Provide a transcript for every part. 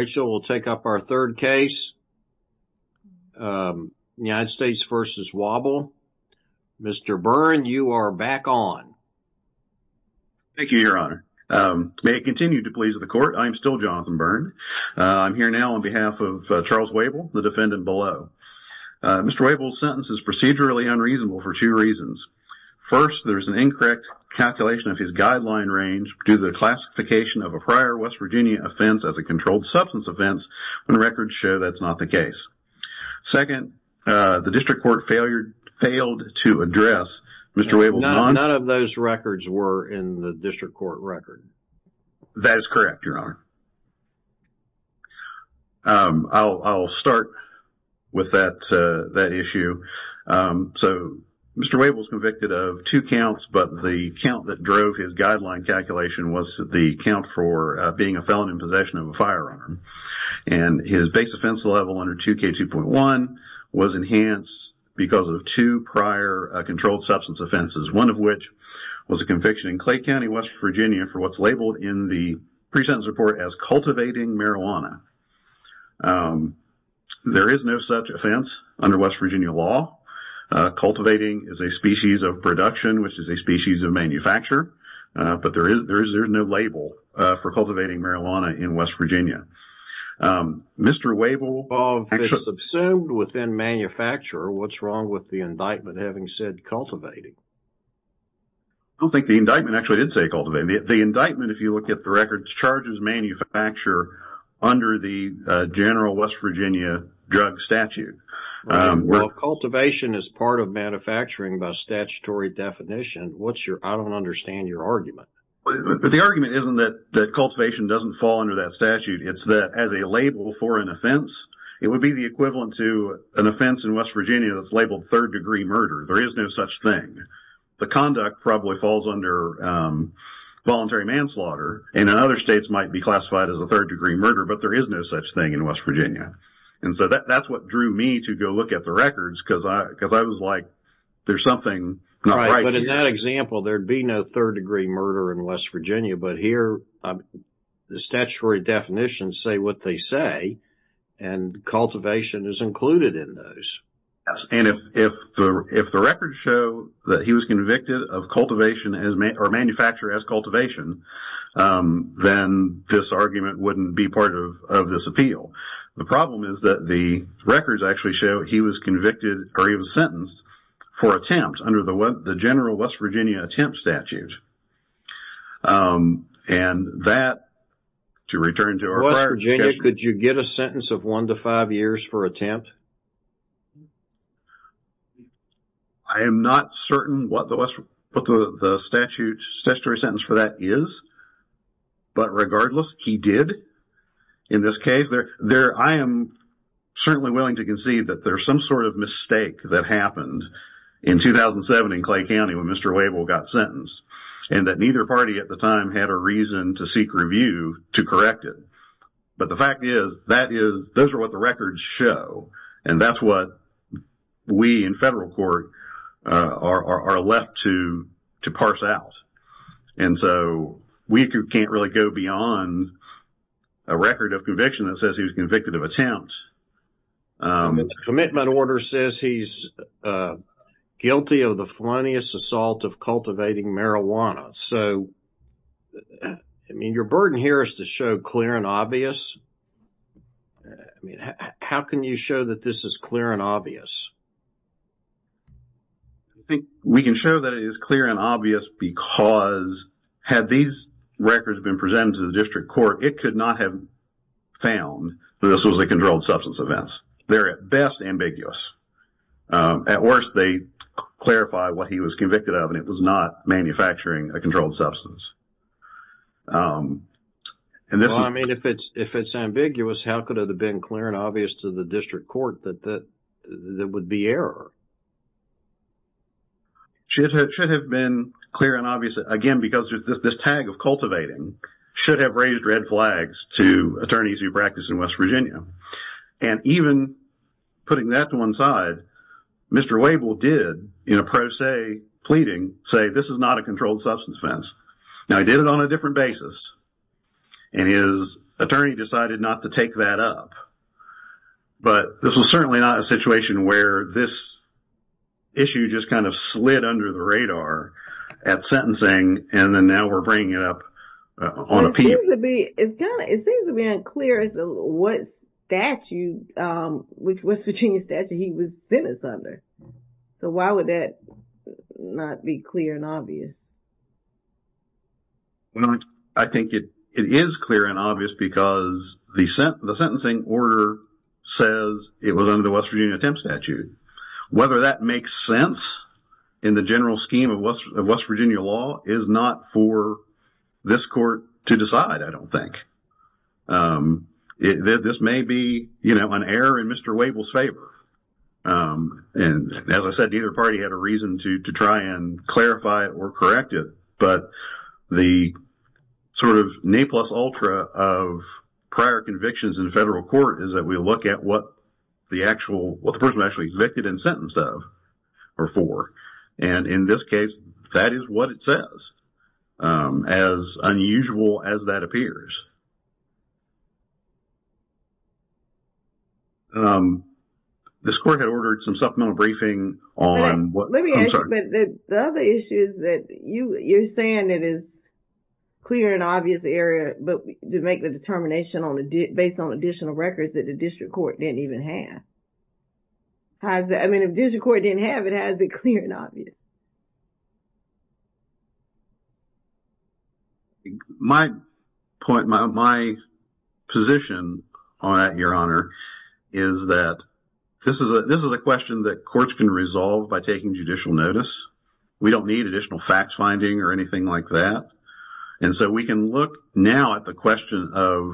Rachel, we'll take up our third case, United States v. Wable. Mr. Byrne, you are back on. Thank you, Your Honor. May it continue to please the Court, I am still Jonathan Byrne. I'm here now on behalf of Charles Wable, the defendant below. Mr. Wable's sentence is procedurally unreasonable for two reasons. First, there's an incorrect calculation of his guideline range due to the classification of a prior West Virginia offense as a controlled substance offense when records show that's not the case. Second, the district court failed to address Mr. Wable's non- None of those records were in the district court record. That is correct, Your Honor. I'll start with that issue. Mr. Wable was convicted of two counts, but the count that drove his guideline calculation was the count for being a felon in possession of a firearm. His base offense level under 2K2.1 was enhanced because of two prior controlled substance offenses, one of which was a conviction in Clay County, West Virginia, for what's labeled in the pre-sentence report as cultivating marijuana. There is no such offense under West Virginia law. Cultivating is a species of production, which is a species of manufacture, but there is no label for cultivating marijuana in West Virginia. Mr. Wable- If it's assumed within manufacture, what's wrong with the indictment having said cultivating? I don't think the indictment actually did say cultivating. The indictment, if you look at the records, charges manufacture under the general West Virginia drug statute. Well, cultivation is part of manufacturing by statutory definition. I don't understand your argument. The argument isn't that cultivation doesn't fall under that statute. It's that as a label for an offense, it would be the equivalent to an offense in West Virginia that's labeled third-degree murder. There is no such thing. The conduct probably falls under voluntary manslaughter, and in other states might be classified as a third-degree murder, but there is no such thing in West Virginia. And so that's what drew me to go look at the records, because I was like, there's something not right here. Right, but in that example, there'd be no third-degree murder in West Virginia, but here the statutory definitions say what they say, and cultivation is included in those. Yes, and if the records show that he was convicted of cultivation or manufactured as cultivation, then this argument wouldn't be part of this appeal. The problem is that the records actually show he was convicted, or he was sentenced, for attempt under the general West Virginia attempt statute. And that, to return to our prior discussion... West Virginia, could you get a sentence of one to five years for attempt? I am not certain what the statutory sentence for that is, but regardless, he did in this case. I am certainly willing to concede that there's some sort of mistake that happened in 2007 in Clay County when Mr. Wavell got sentenced, and that neither party at the time had a reason to seek review to correct it. But the fact is, those are what the records show. And that's what we in federal court are left to parse out. And so, we can't really go beyond a record of conviction that says he was convicted of attempt. The commitment order says he's guilty of the felonious assault of cultivating marijuana. So, I mean, your burden here is to show clear and obvious. I mean, how can you show that this is clear and obvious? I think we can show that it is clear and obvious because, had these records been presented to the district court, it could not have found that this was a controlled substance offense. They're at best ambiguous. At worst, they clarify what he was convicted of, and it was not manufacturing a controlled substance. Well, I mean, if it's ambiguous, how could it have been clear and obvious to the district court that there would be error? It should have been clear and obvious, again, because this tag of cultivating should have raised red flags to attorneys who practice in West Virginia. And even putting that to one side, Mr. Wavell did, in a pro se pleading, say this is not a controlled substance offense. Now, he did it on a different basis. And his attorney decided not to take that up. But this was certainly not a situation where this issue just kind of slid under the radar at sentencing, and then now we're bringing it up on appeal. It seems to be unclear as to what statute, which West Virginia statute he was sentenced under. So, why would that not be clear and obvious? I think it is clear and obvious because the sentencing order says it was under the West Virginia attempt statute. Whether that makes sense in the general scheme of West Virginia law is not for this court to decide, I don't think. This may be an error in Mr. Wavell's favor. And as I said, neither party had a reason to try and clarify it or correct it. But the sort of nay plus ultra of prior convictions in federal court is that we look at what the actual, what the person actually convicted and sentenced of or for. And in this case, that is what it says. As unusual as that appears. This court had ordered some supplemental briefing on what concerns... I'm just saying it is clear and obvious area, but to make the determination based on additional records that the district court didn't even have. I mean, if district court didn't have it, how is it clear and obvious? My point, my position on that, Your Honor, is that this is a question that courts can resolve by taking judicial notice. We don't need additional fact-finding or anything like that. And so we can look now at the question of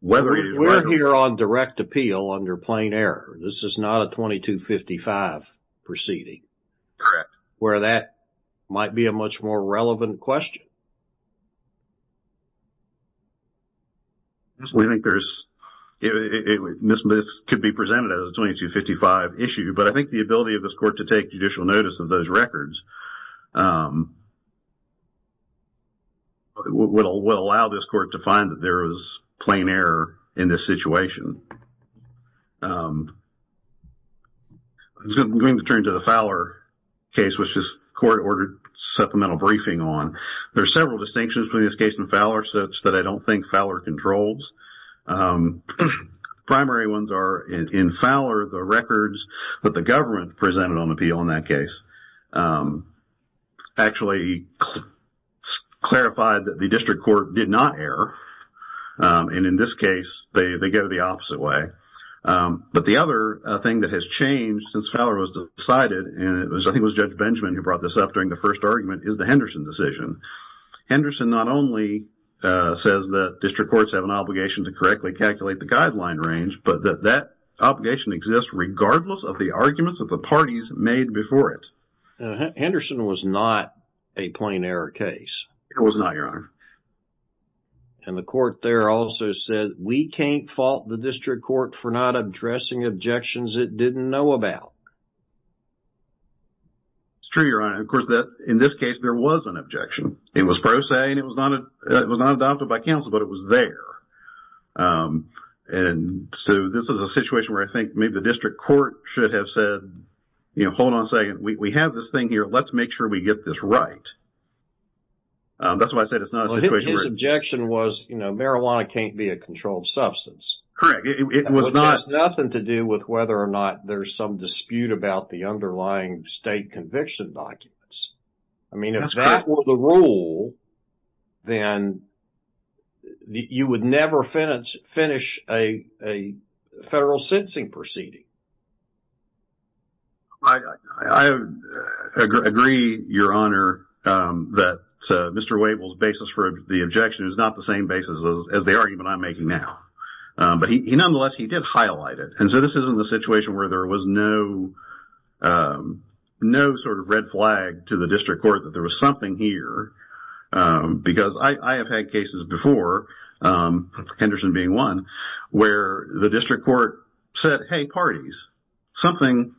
whether... We're here on direct appeal under plain error. This is not a 2255 proceeding. Correct. Where that might be a much more relevant question. I think there's... This could be presented as a 2255 issue, but I think the ability of this court to take judicial notice of those records would allow this court to find that there is plain error in this situation. I'm going to turn to the Fowler case, which this court ordered supplemental briefing on. There are several distinctions between this case and Fowler, such that I don't think Fowler controls. Primary ones are in Fowler, the records that the government presented on appeal in that case actually clarified that the district court did not err. And in this case, they go the opposite way. But the other thing that has changed since Fowler was decided, and I think it was Judge Benjamin who brought this up during the first argument, is the Henderson decision. Henderson not only says that district courts have an obligation to correctly calculate the guideline range, but that that obligation exists regardless of the arguments of the parties made before it. Henderson was not a plain error case. It was not, Your Honor. And the court there also said, we can't fault the district court for not addressing objections it didn't know about. It's true, Your Honor. And, of course, in this case, there was an objection. It was pro se, and it was not adopted by counsel, but it was there. And so this is a situation where I think maybe the district court should have said, you know, hold on a second. We have this thing here. Let's make sure we get this right. That's why I said it's not a situation where… Well, his objection was, you know, marijuana can't be a controlled substance. Correct. It was not… Which has nothing to do with whether or not there's some dispute about the underlying state conviction documents. I mean, if that were the rule, then you would never finish a federal sentencing proceeding. I agree, Your Honor, that Mr. Wavell's basis for the objection is not the same basis as the argument I'm making now. But nonetheless, he did highlight it. And so this isn't a situation where there was no sort of red flag to the district court that there was something here. Because I have had cases before, Henderson being one, where the district court said, hey, parties, something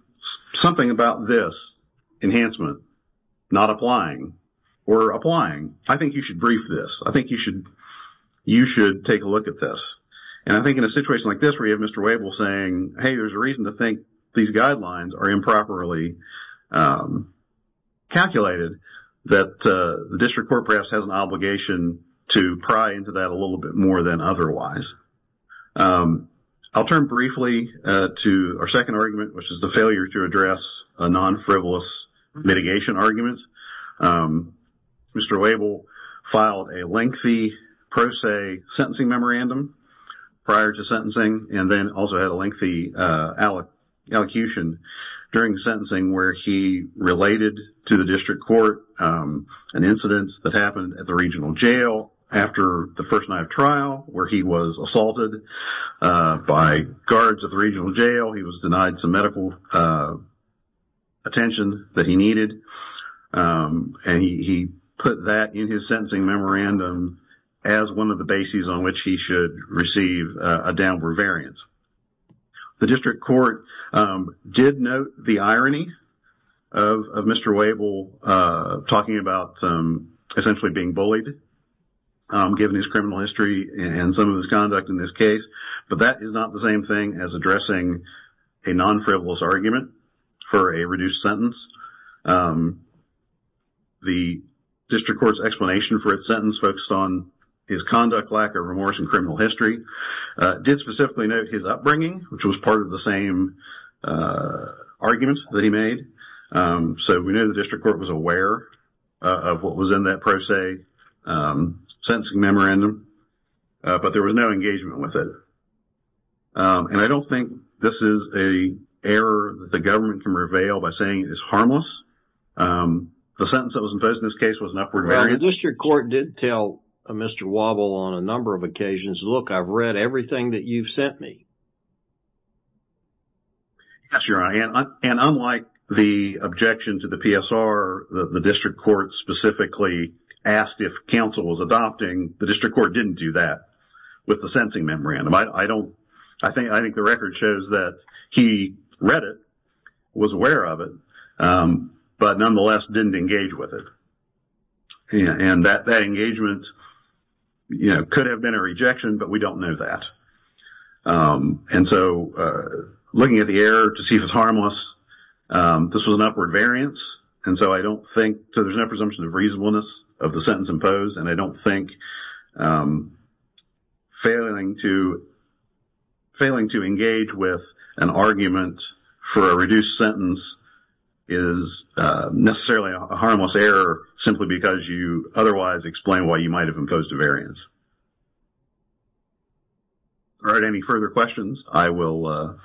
about this enhancement not applying or applying. I think you should brief this. I think you should take a look at this. And I think in a situation like this where you have Mr. Wavell saying, hey, there's a reason to think these guidelines are improperly calculated, that the district court perhaps has an obligation to pry into that a little bit more than otherwise. I'll turn briefly to our second argument, which is the failure to address a non-frivolous mitigation argument. Mr. Wavell filed a lengthy pro se sentencing memorandum prior to sentencing and then also had a lengthy elocution during sentencing where he related to the district court an incident that happened at the regional jail after the first night of trial where he was assaulted by guards at the regional jail. He was denied some medical attention that he needed. And he put that in his sentencing memorandum as one of the bases on which he should receive a downward variance. The district court did note the irony of Mr. Wavell talking about essentially being bullied, given his criminal history and some of his conduct in this case. But that is not the same thing as addressing a non-frivolous argument for a reduced sentence. The district court's explanation for its sentence focused on his conduct, lack of remorse, and criminal history. It did specifically note his upbringing, which was part of the same argument that he made. So we know the district court was aware of what was in that pro se sentencing memorandum, but there was no engagement with it. And I don't think this is an error that the government can reveal by saying it's harmless. The sentence that was imposed in this case was an upward variance. The district court did tell Mr. Wavell on a number of occasions, look, I've read everything that you've sent me. Yes, Your Honor, and unlike the objection to the PSR, the district court specifically asked if counsel was adopting. The district court didn't do that with the sentencing memorandum. I think the record shows that he read it, was aware of it, but nonetheless didn't engage with it. And that engagement could have been a rejection, but we don't know that. And so looking at the error to see if it's harmless, this was an upward variance. So there's no presumption of reasonableness of the sentence imposed, and I don't think failing to engage with an argument for a reduced sentence is necessarily a harmless error simply because you otherwise explain why you might have imposed a variance. All right, any further questions? I will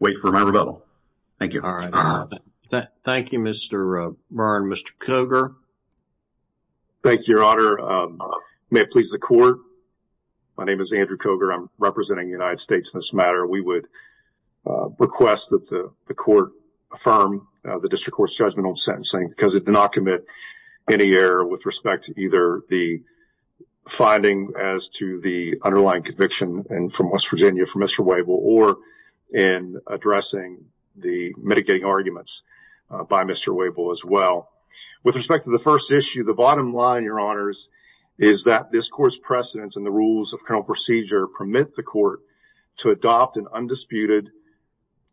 wait for my rebuttal. Thank you. All right. Thank you, Mr. Byrne. Mr. Cogar. Thank you, Your Honor. May it please the court, my name is Andrew Cogar. I'm representing the United States in this matter. We would request that the court affirm the district court's judgment on sentencing because it did not commit any error with respect to either the finding as to the underlying conviction from West Virginia from Mr. Wavell or in addressing the mitigating arguments by Mr. Wavell as well. With respect to the first issue, the bottom line, Your Honors, is that this court's precedents and the rules of criminal procedure permit the court to adopt an undisputed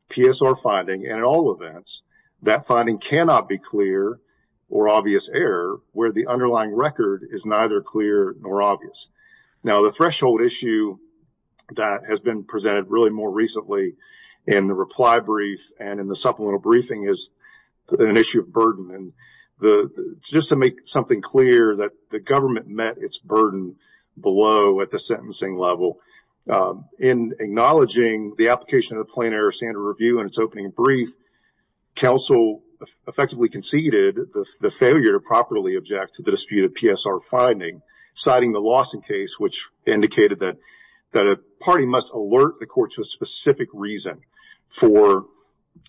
PSR finding, and in all events, that finding cannot be clear or obvious error where the underlying record is neither clear nor obvious. Now, the threshold issue that has been presented really more recently in the reply brief and in the supplemental briefing is an issue of burden. Just to make something clear that the government met its burden below at the sentencing level, in acknowledging the application of the plain error standard review in its opening brief, counsel effectively conceded the failure to objectively object to the disputed PSR finding, citing the Lawson case, which indicated that a party must alert the court to a specific reason for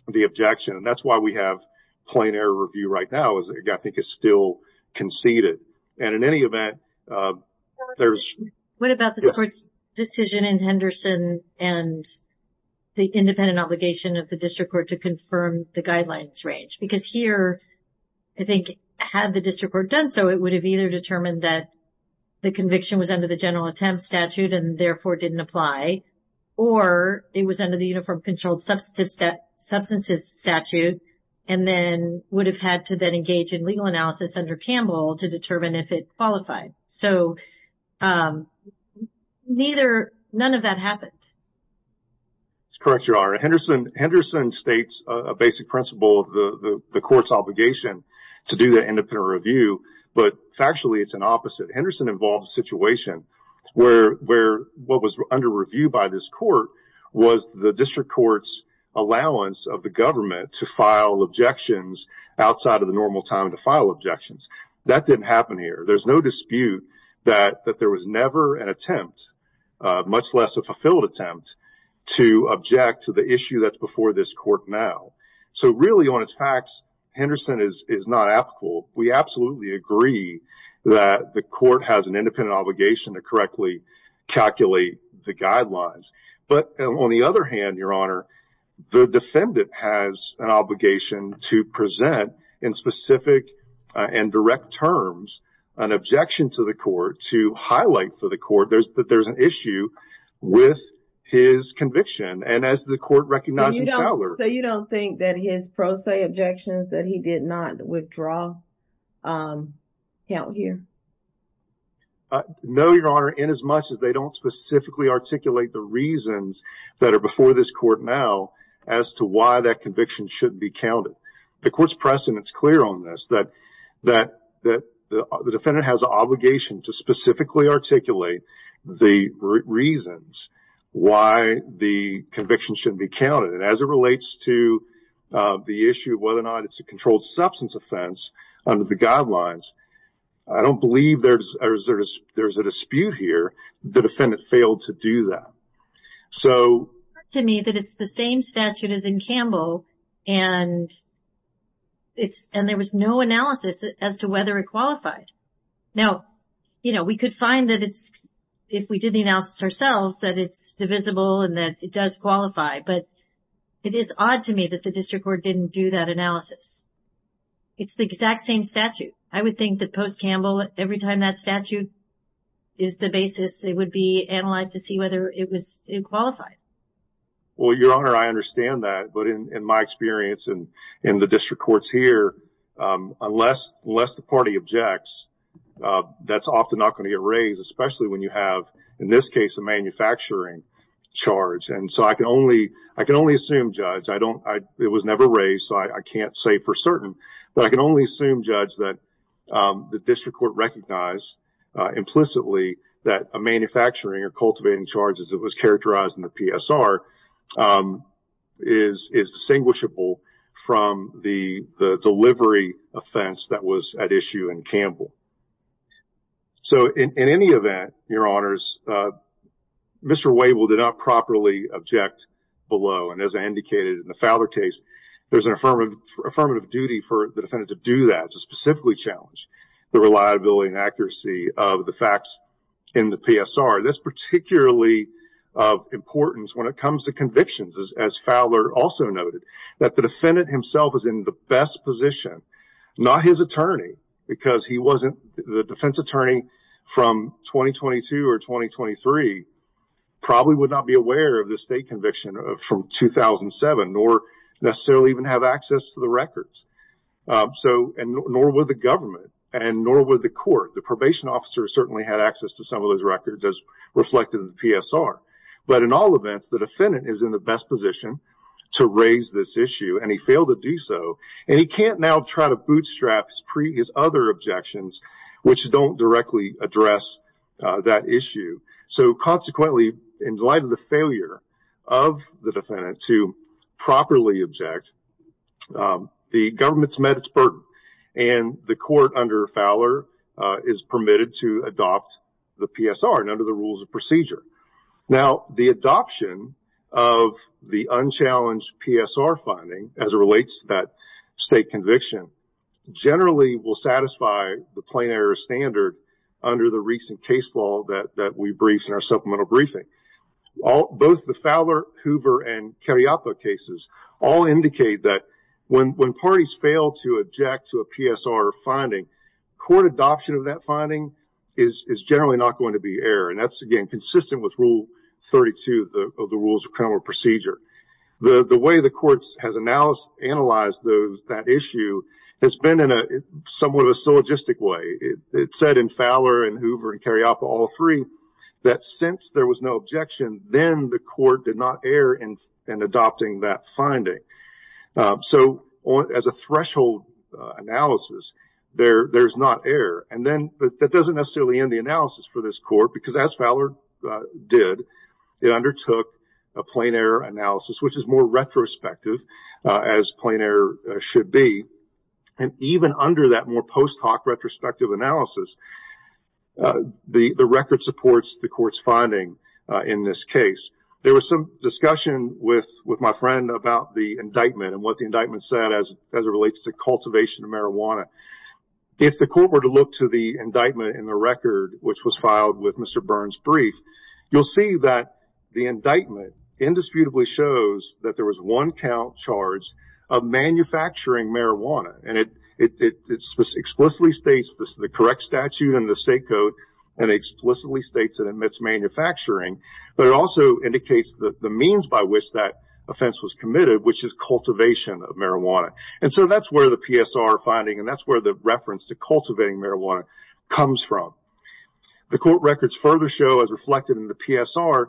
the objection, and that's why we have plain error review right now. I think it's still conceded. And in any event, there's – What about this court's decision in Henderson and the independent obligation of the district court to confirm the guidelines range? Because here, I think had the district court done so, it would have either determined that the conviction was under the general attempt statute and therefore didn't apply, or it was under the uniform controlled substances statute, and then would have had to then engage in legal analysis under Campbell to determine if it qualified. So, neither – none of that happened. That's correct, Your Honor. Henderson states a basic principle of the court's obligation to do the independent review, but factually it's an opposite. Henderson involves a situation where what was under review by this court was the district court's allowance of the government to file objections outside of the normal time to file objections. That didn't happen here. There's no dispute that there was never an attempt, much less a fulfilled attempt, to object to the issue that's before this court now. So, really, on its facts, Henderson is not applicable. We absolutely agree that the court has an independent obligation to correctly calculate the guidelines. But on the other hand, Your Honor, the defendant has an obligation to present in specific and direct terms an objection to the court to highlight for the court that there's an issue with his conviction. And as the court recognized in Fowler – So, you don't think that his pro se objections that he did not withdraw count here? No, Your Honor, in as much as they don't specifically articulate the reasons that are before this court now as to why that conviction shouldn't be counted. The court's precedent is clear on this, that the defendant has an obligation to highlight the reasons why the conviction shouldn't be counted. And as it relates to the issue of whether or not it's a controlled substance offense under the guidelines, I don't believe there's a dispute here that the defendant failed to do that. So – It's clear to me that it's the same statute as in Campbell, and there was no analysis as to whether it qualified. Now, you know, we could find that it's – if we did the analysis ourselves, that it's divisible and that it does qualify. But it is odd to me that the district court didn't do that analysis. It's the exact same statute. I would think that post-Campbell, every time that statute is the basis, it would be analyzed to see whether it was – it qualified. Well, Your Honor, I understand that. But in my experience in the district courts here, unless the party objects, that's often not going to get raised, especially when you have, in this case, a manufacturing charge. And so I can only assume, Judge, I don't – it was never raised, so I can't say for certain. But I can only assume, Judge, that the district court recognized implicitly that a manufacturing or cultivating charge, as it was characterized in the PSR, is distinguishable from the delivery offense that was at issue in Campbell. So in any event, Your Honors, Mr. Wavell did not properly object below. And as I indicated in the Fowler case, there's an affirmative duty for the defendant to do that, to specifically challenge the reliability and accuracy of the facts in the PSR. That's particularly of importance when it comes to convictions, as Fowler also noted, that the defendant himself is in the best position. Not his attorney, because he wasn't – the defense attorney from 2022 or 2023 probably would not be aware of the state conviction from 2007, nor necessarily even have access to the records. So – and nor would the government, and nor would the court. The probation officer certainly had access to some of those records, as reflected in the PSR. But in all events, the defendant is in the best position to raise this issue, and he failed to do so. And he can't now try to bootstrap his other objections, which don't directly address that issue. So consequently, in light of the failure of the defendant to properly object, the government's met its burden. And the court under Fowler is permitted to adopt the PSR and under the rules of procedure. Now, the adoption of the unchallenged PSR finding, as it relates to that state conviction, generally will satisfy the plain error standard under the recent case law that we briefed in our supplemental briefing. Both the Fowler, Hoover, and Carriopo cases all indicate that when parties fail to object to a PSR finding, court adoption of that finding is generally not going to be error. And that's, again, consistent with Rule 32 of the Rules of Criminal Procedure. The way the courts have analyzed that issue has been in somewhat of a syllogistic way. It's said in Fowler and Hoover and Carriopo, all three, that since there was no objection, then the court did not err in adopting that finding. So as a threshold analysis, there's not error. And that doesn't necessarily end the analysis for this court because, as Fowler did, it undertook a plain error analysis, which is more retrospective, as plain error should be. And even under that more post hoc retrospective analysis, the record supports the court's finding in this case. There was some discussion with my friend about the indictment and what the indictment said as it relates to cultivation of marijuana. If the court were to look to the indictment in the record, which was filed with Mr. Burns' brief, you'll see that the indictment indisputably shows that there was one count charge of manufacturing marijuana. And it explicitly states this is the correct statute in the state code and explicitly states it omits manufacturing. But it also indicates the means by which that offense was committed, which is cultivation of marijuana. And so that's where the PSR finding and that's where the reference to cultivating marijuana comes from. The court records further show, as reflected in the PSR,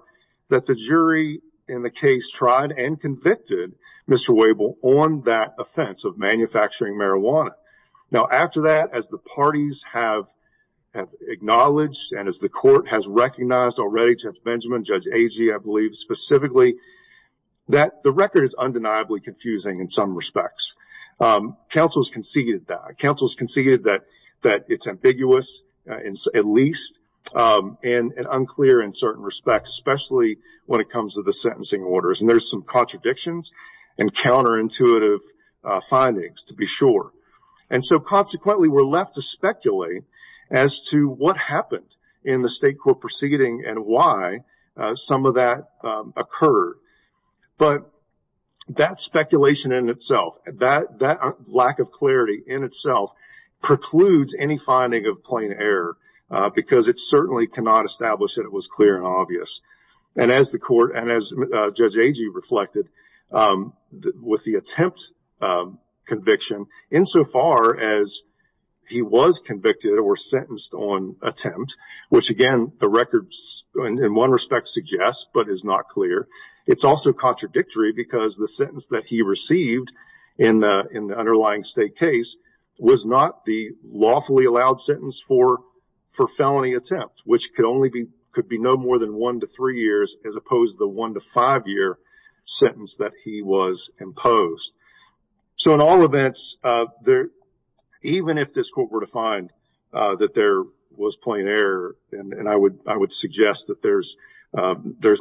that the jury in the case tried and convicted Mr. Wabel on that offense of manufacturing marijuana. Now, after that, as the parties have acknowledged and as the court has recognized already, Judge Benjamin, Judge Agee, I believe, specifically, that the record is undeniably confusing in some respects. Counsel has conceded that. Counsel has conceded that it's ambiguous, at least, and unclear in certain respects, especially when it comes to the sentencing orders. And there's some contradictions and counterintuitive findings, to be sure. And so, consequently, we're left to speculate as to what happened in the state court proceeding and why some of that occurred. But that speculation in itself, that lack of clarity in itself, precludes any finding of plain error because it certainly cannot establish that it was clear and obvious. And as the court, and as Judge Agee reflected, with the attempt conviction, insofar as he was convicted or sentenced on attempt, which, again, the records, in one respect, suggest, but is not clear, it's also contradictory because the sentence that he received in the underlying state case was not the lawfully allowed sentence for felony attempt, which could be no more than one to three years as opposed to the one to five year sentence that he was imposed. So, in all events, even if this court were to find that there was plain error, and I would suggest that there's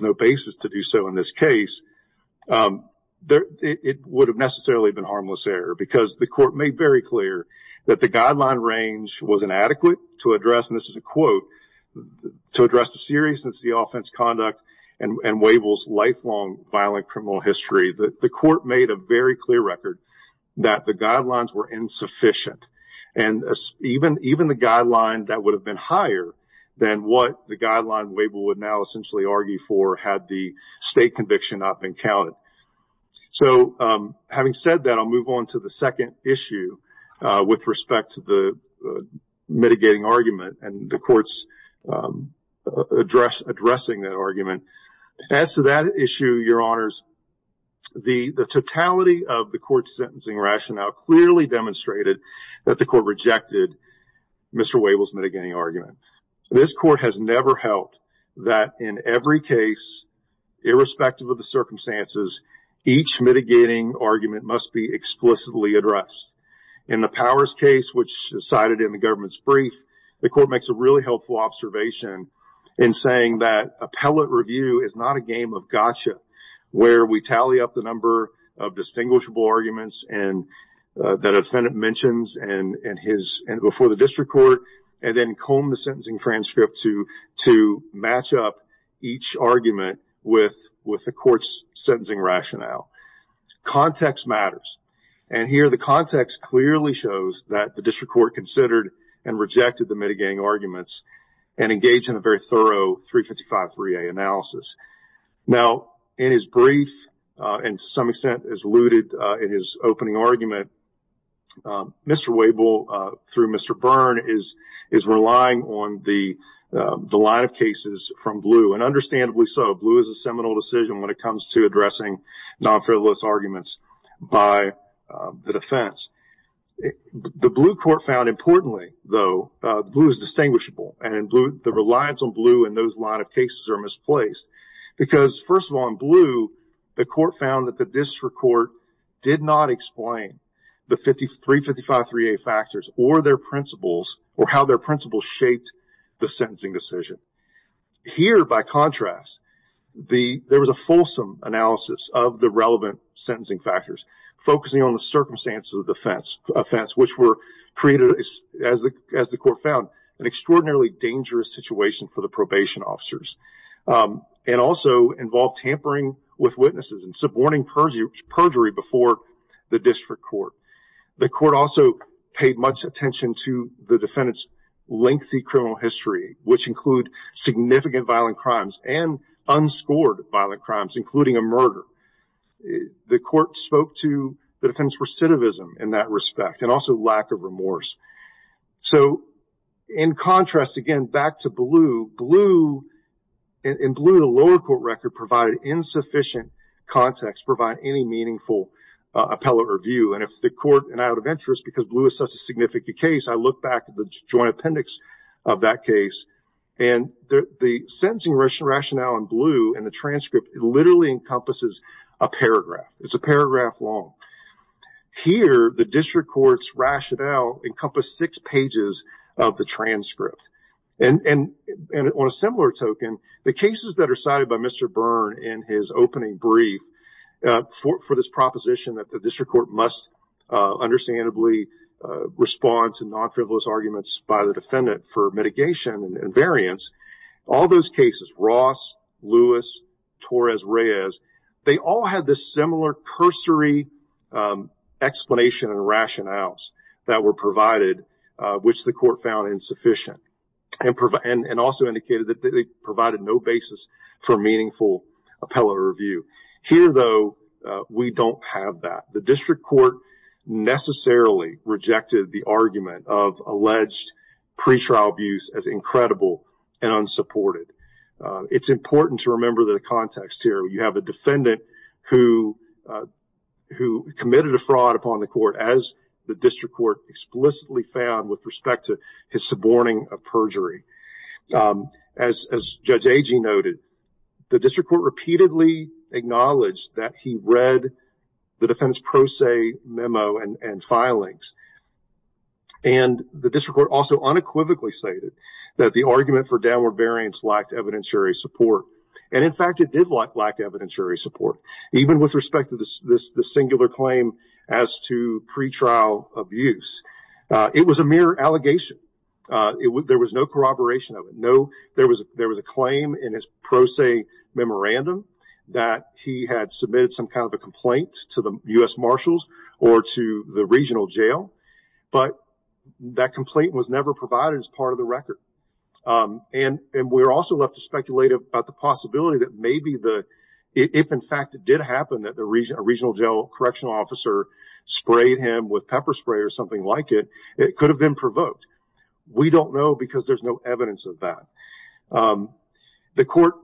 no basis to do so in this case, it would have necessarily been harmless error because the court made very clear that the guideline range was inadequate to address, and this is a quote, to address the seriousness of the offense conduct and Wable's lifelong violent criminal history, the court made a very clear record that the guidelines were insufficient. And even the guideline that would have been higher than what the guideline Wable would now essentially argue for had the state conviction not been counted. So, having said that, I'll move on to the second issue with respect to the mitigating argument and the court's addressing that argument. As to that issue, Your Honors, the totality of the court's sentencing rationale clearly demonstrated that the court rejected Mr. Wable's mitigating argument. This court has never held that in every case, irrespective of the circumstances, each mitigating argument must be explicitly addressed. In the Powers case, which is cited in the government's brief, the court makes a really helpful observation in saying that appellate review is not a game of gotcha, where we tally up the number of distinguishable arguments that a defendant mentions before the district court and then comb the sentencing transcript to match up each argument with the court's sentencing rationale. Context matters, and here the context clearly shows that the district court considered and rejected the mitigating arguments and engaged in a very thorough 355-3A analysis. Now, in his brief, and to some extent as alluded in his opening argument, Mr. Wable, through Mr. Byrne, is relying on the line of cases from Blue, and understandably so. Blue is a seminal decision when it comes to addressing non-frivolous arguments by the defense. The Blue court found importantly, though, Blue is distinguishable, and the reliance on Blue in those line of cases are misplaced because, first of all, in Blue, the court found that the district court did not explain the 355-3A factors or their principles, or how their principles shaped the sentencing decision. Here, by contrast, there was a fulsome analysis of the relevant sentencing factors, focusing on the circumstances of the offense, which were created, as the court found, an extraordinarily dangerous situation for the probation officers, and also involved tampering with witnesses and suborning perjury before the district court. The court also paid much attention to the defendant's lengthy criminal history, which include significant violent crimes and unscored violent crimes, including a murder. The court spoke to the defendant's recidivism in that respect, and also lack of remorse. So, in contrast, again, back to Blue, Blue, in Blue, the lower court record, provided insufficient context to provide any meaningful appellate review, and if the court, and I would venture, is because Blue is such a significant case, I look back at the joint appendix of that case, and the sentencing rationale in Blue, in the transcript, literally encompasses a paragraph. It's a paragraph long. Here, the district court's rationale encompassed six pages of the transcript. And on a similar token, the cases that are cited by Mr. Byrne in his opening brief for this proposition that the district court must understandably respond to non-frivolous arguments by the defendant for mitigation and variance, all those cases, Ross, Lewis, Torres, Reyes, they all had this similar cursory explanation and rationales that were provided, which the court found insufficient, and also indicated that they provided no basis for meaningful appellate review. Here, though, we don't have that. The district court necessarily rejected the argument of alleged pretrial abuse as incredible and unsupported. It's important to remember the context here. You have a defendant who committed a fraud upon the court, as the district court explicitly found with respect to his suborning of perjury. As Judge Agee noted, the district court repeatedly acknowledged that he read the defendant's pro se memo and filings. And the district court also unequivocally stated that the argument for downward variance lacked evidentiary support. And, in fact, it did lack evidentiary support, even with respect to the singular claim as to pretrial abuse. It was a mere allegation. There was no corroboration of it. There was a claim in his pro se memorandum that he had submitted some kind of a complaint to the U.S. Marshals or to the regional jail, but that complaint was never provided as part of the record. And we're also left to speculate about the possibility that maybe if, in fact, it did happen that a regional jail correctional officer sprayed him with pepper spray or something like it, it could have been provoked. We don't know because there's no evidence of that. The court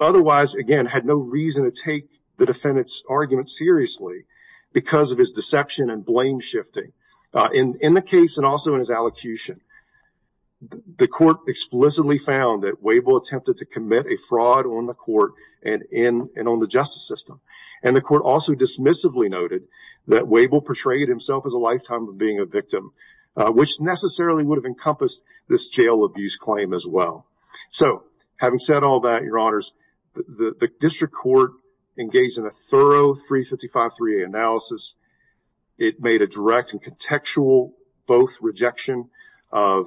otherwise, again, had no reason to take the defendant's argument seriously because of his deception and blame shifting. In the case and also in his allocution, the court explicitly found that Wabel attempted to commit a fraud on the court and on the justice system. And the court also dismissively noted that Wabel portrayed himself as a lifetime of being a victim, which necessarily would have encompassed this jail abuse claim as well. So, having said all that, Your Honors, the district court engaged in a thorough 355-3A analysis. It made a direct and contextual both rejection of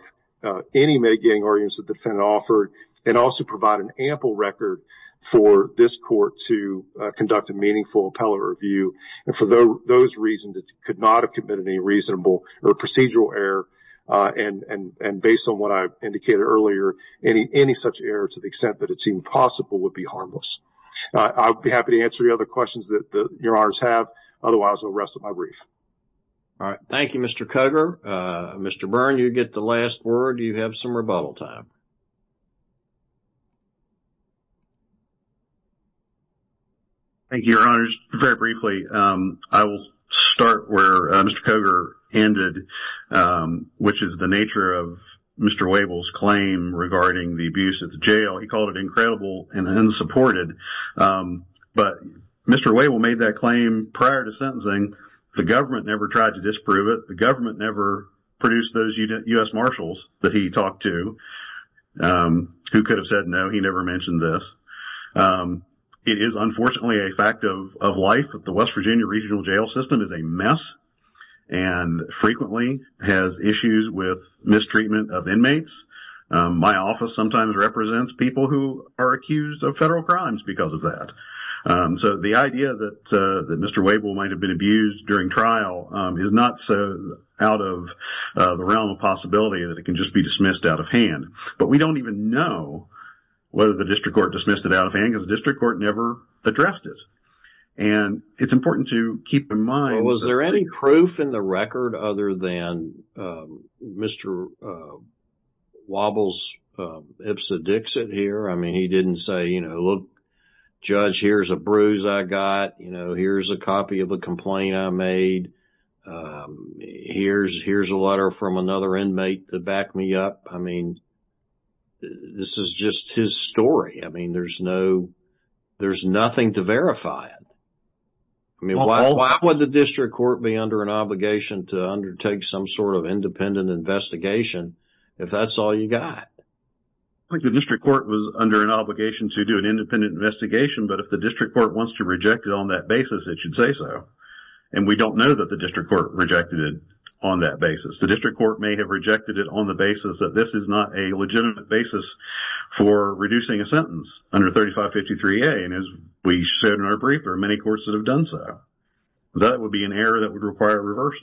any mitigating arguments the defendant offered and also provided an ample record for this court to conduct a meaningful appellate review. And for those reasons, it could not have committed any reasonable or procedural error and based on what I indicated earlier, any such error to the extent that it seemed possible would be harmless. I'll be happy to answer the other questions that Your Honors have. Otherwise, I'll rest with my brief. All right. Thank you, Mr. Cogar. Mr. Byrne, you get the last word. You have some rebuttal time. Thank you, Your Honors. Very briefly, I will start where Mr. Cogar ended. Which is the nature of Mr. Wavell's claim regarding the abuse at the jail. He called it incredible and unsupported. But Mr. Wavell made that claim prior to sentencing. The government never tried to disprove it. The government never produced those U.S. Marshals that he talked to. Who could have said no? He never mentioned this. It is, unfortunately, a fact of life that the West Virginia regional jail system is a mess and frequently has issues with mistreatment of inmates. My office sometimes represents people who are accused of federal crimes because of that. The idea that Mr. Wavell might have been abused during trial is not so out of the realm of possibility that it can just be dismissed out of hand. But we don't even know whether the district court dismissed it out of hand because the district court never addressed it. It's important to keep in mind that there isn't any proof in the record other than Mr. Wavell's ipsodixit here. I mean, he didn't say, you know, look, Judge, here's a bruise I got. Here's a copy of a complaint I made. Here's a letter from another inmate to back me up. I mean, this is just his story. I mean, there's nothing to verify it. Why would the district court be under an obligation to undertake some sort of independent investigation if that's all you got? I think the district court was under an obligation to do an independent investigation, but if the district court wants to reject it on that basis, it should say so. And we don't know that the district court rejected it on that basis. The district court may have rejected it on the basis that this is not a legitimate basis for reducing a sentence under 3553A. And as we said in our brief, there are many courts that have done so. That would be an error that would require a reverse.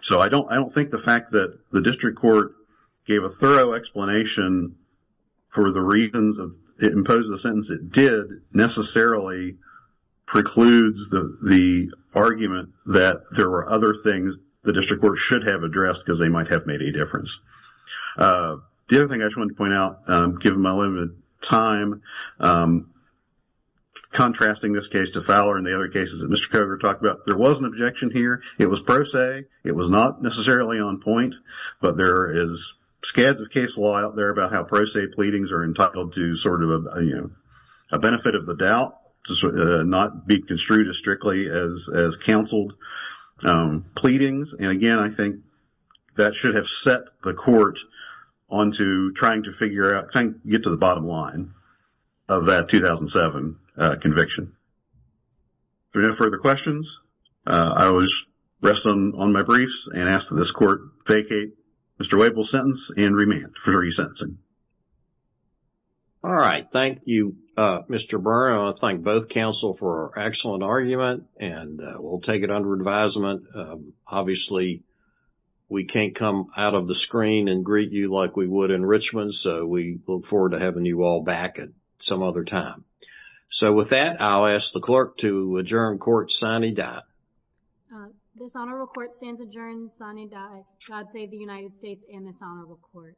So I don't think the fact that the district court gave a thorough explanation for the reasons it imposed the sentence it did necessarily precludes the argument that there were other things the district court should have addressed because they might have made a difference. The other thing I just wanted to point out, given my limited time, contrasting this case to Fowler and the other cases that Mr. Koger talked about, there was an objection here. It was pro se. It was not necessarily on point, but there is scads of case law out there about how pro se pleadings are entitled to sort of a benefit of the doubt, not be construed as strictly as counseled pleadings. And again, I think that should have set the court onto trying to figure out, trying to get to the bottom line of that 2007 conviction. If there are no further questions, I will just rest on my briefs and ask that this court vacate Mr. Wavell's sentence and remand for re-sentencing. All right. Thank you, Mr. Byrne. I want to thank both counsel for an excellent argument and we'll take it under advisement. Obviously, we can't come out of the screen and greet you like we would in Richmond, so we look forward to having you all back at some other time. So with that, I'll ask the clerk to adjourn court sine die. This honorable court stands adjourned sine die. God save the United States and this honorable court.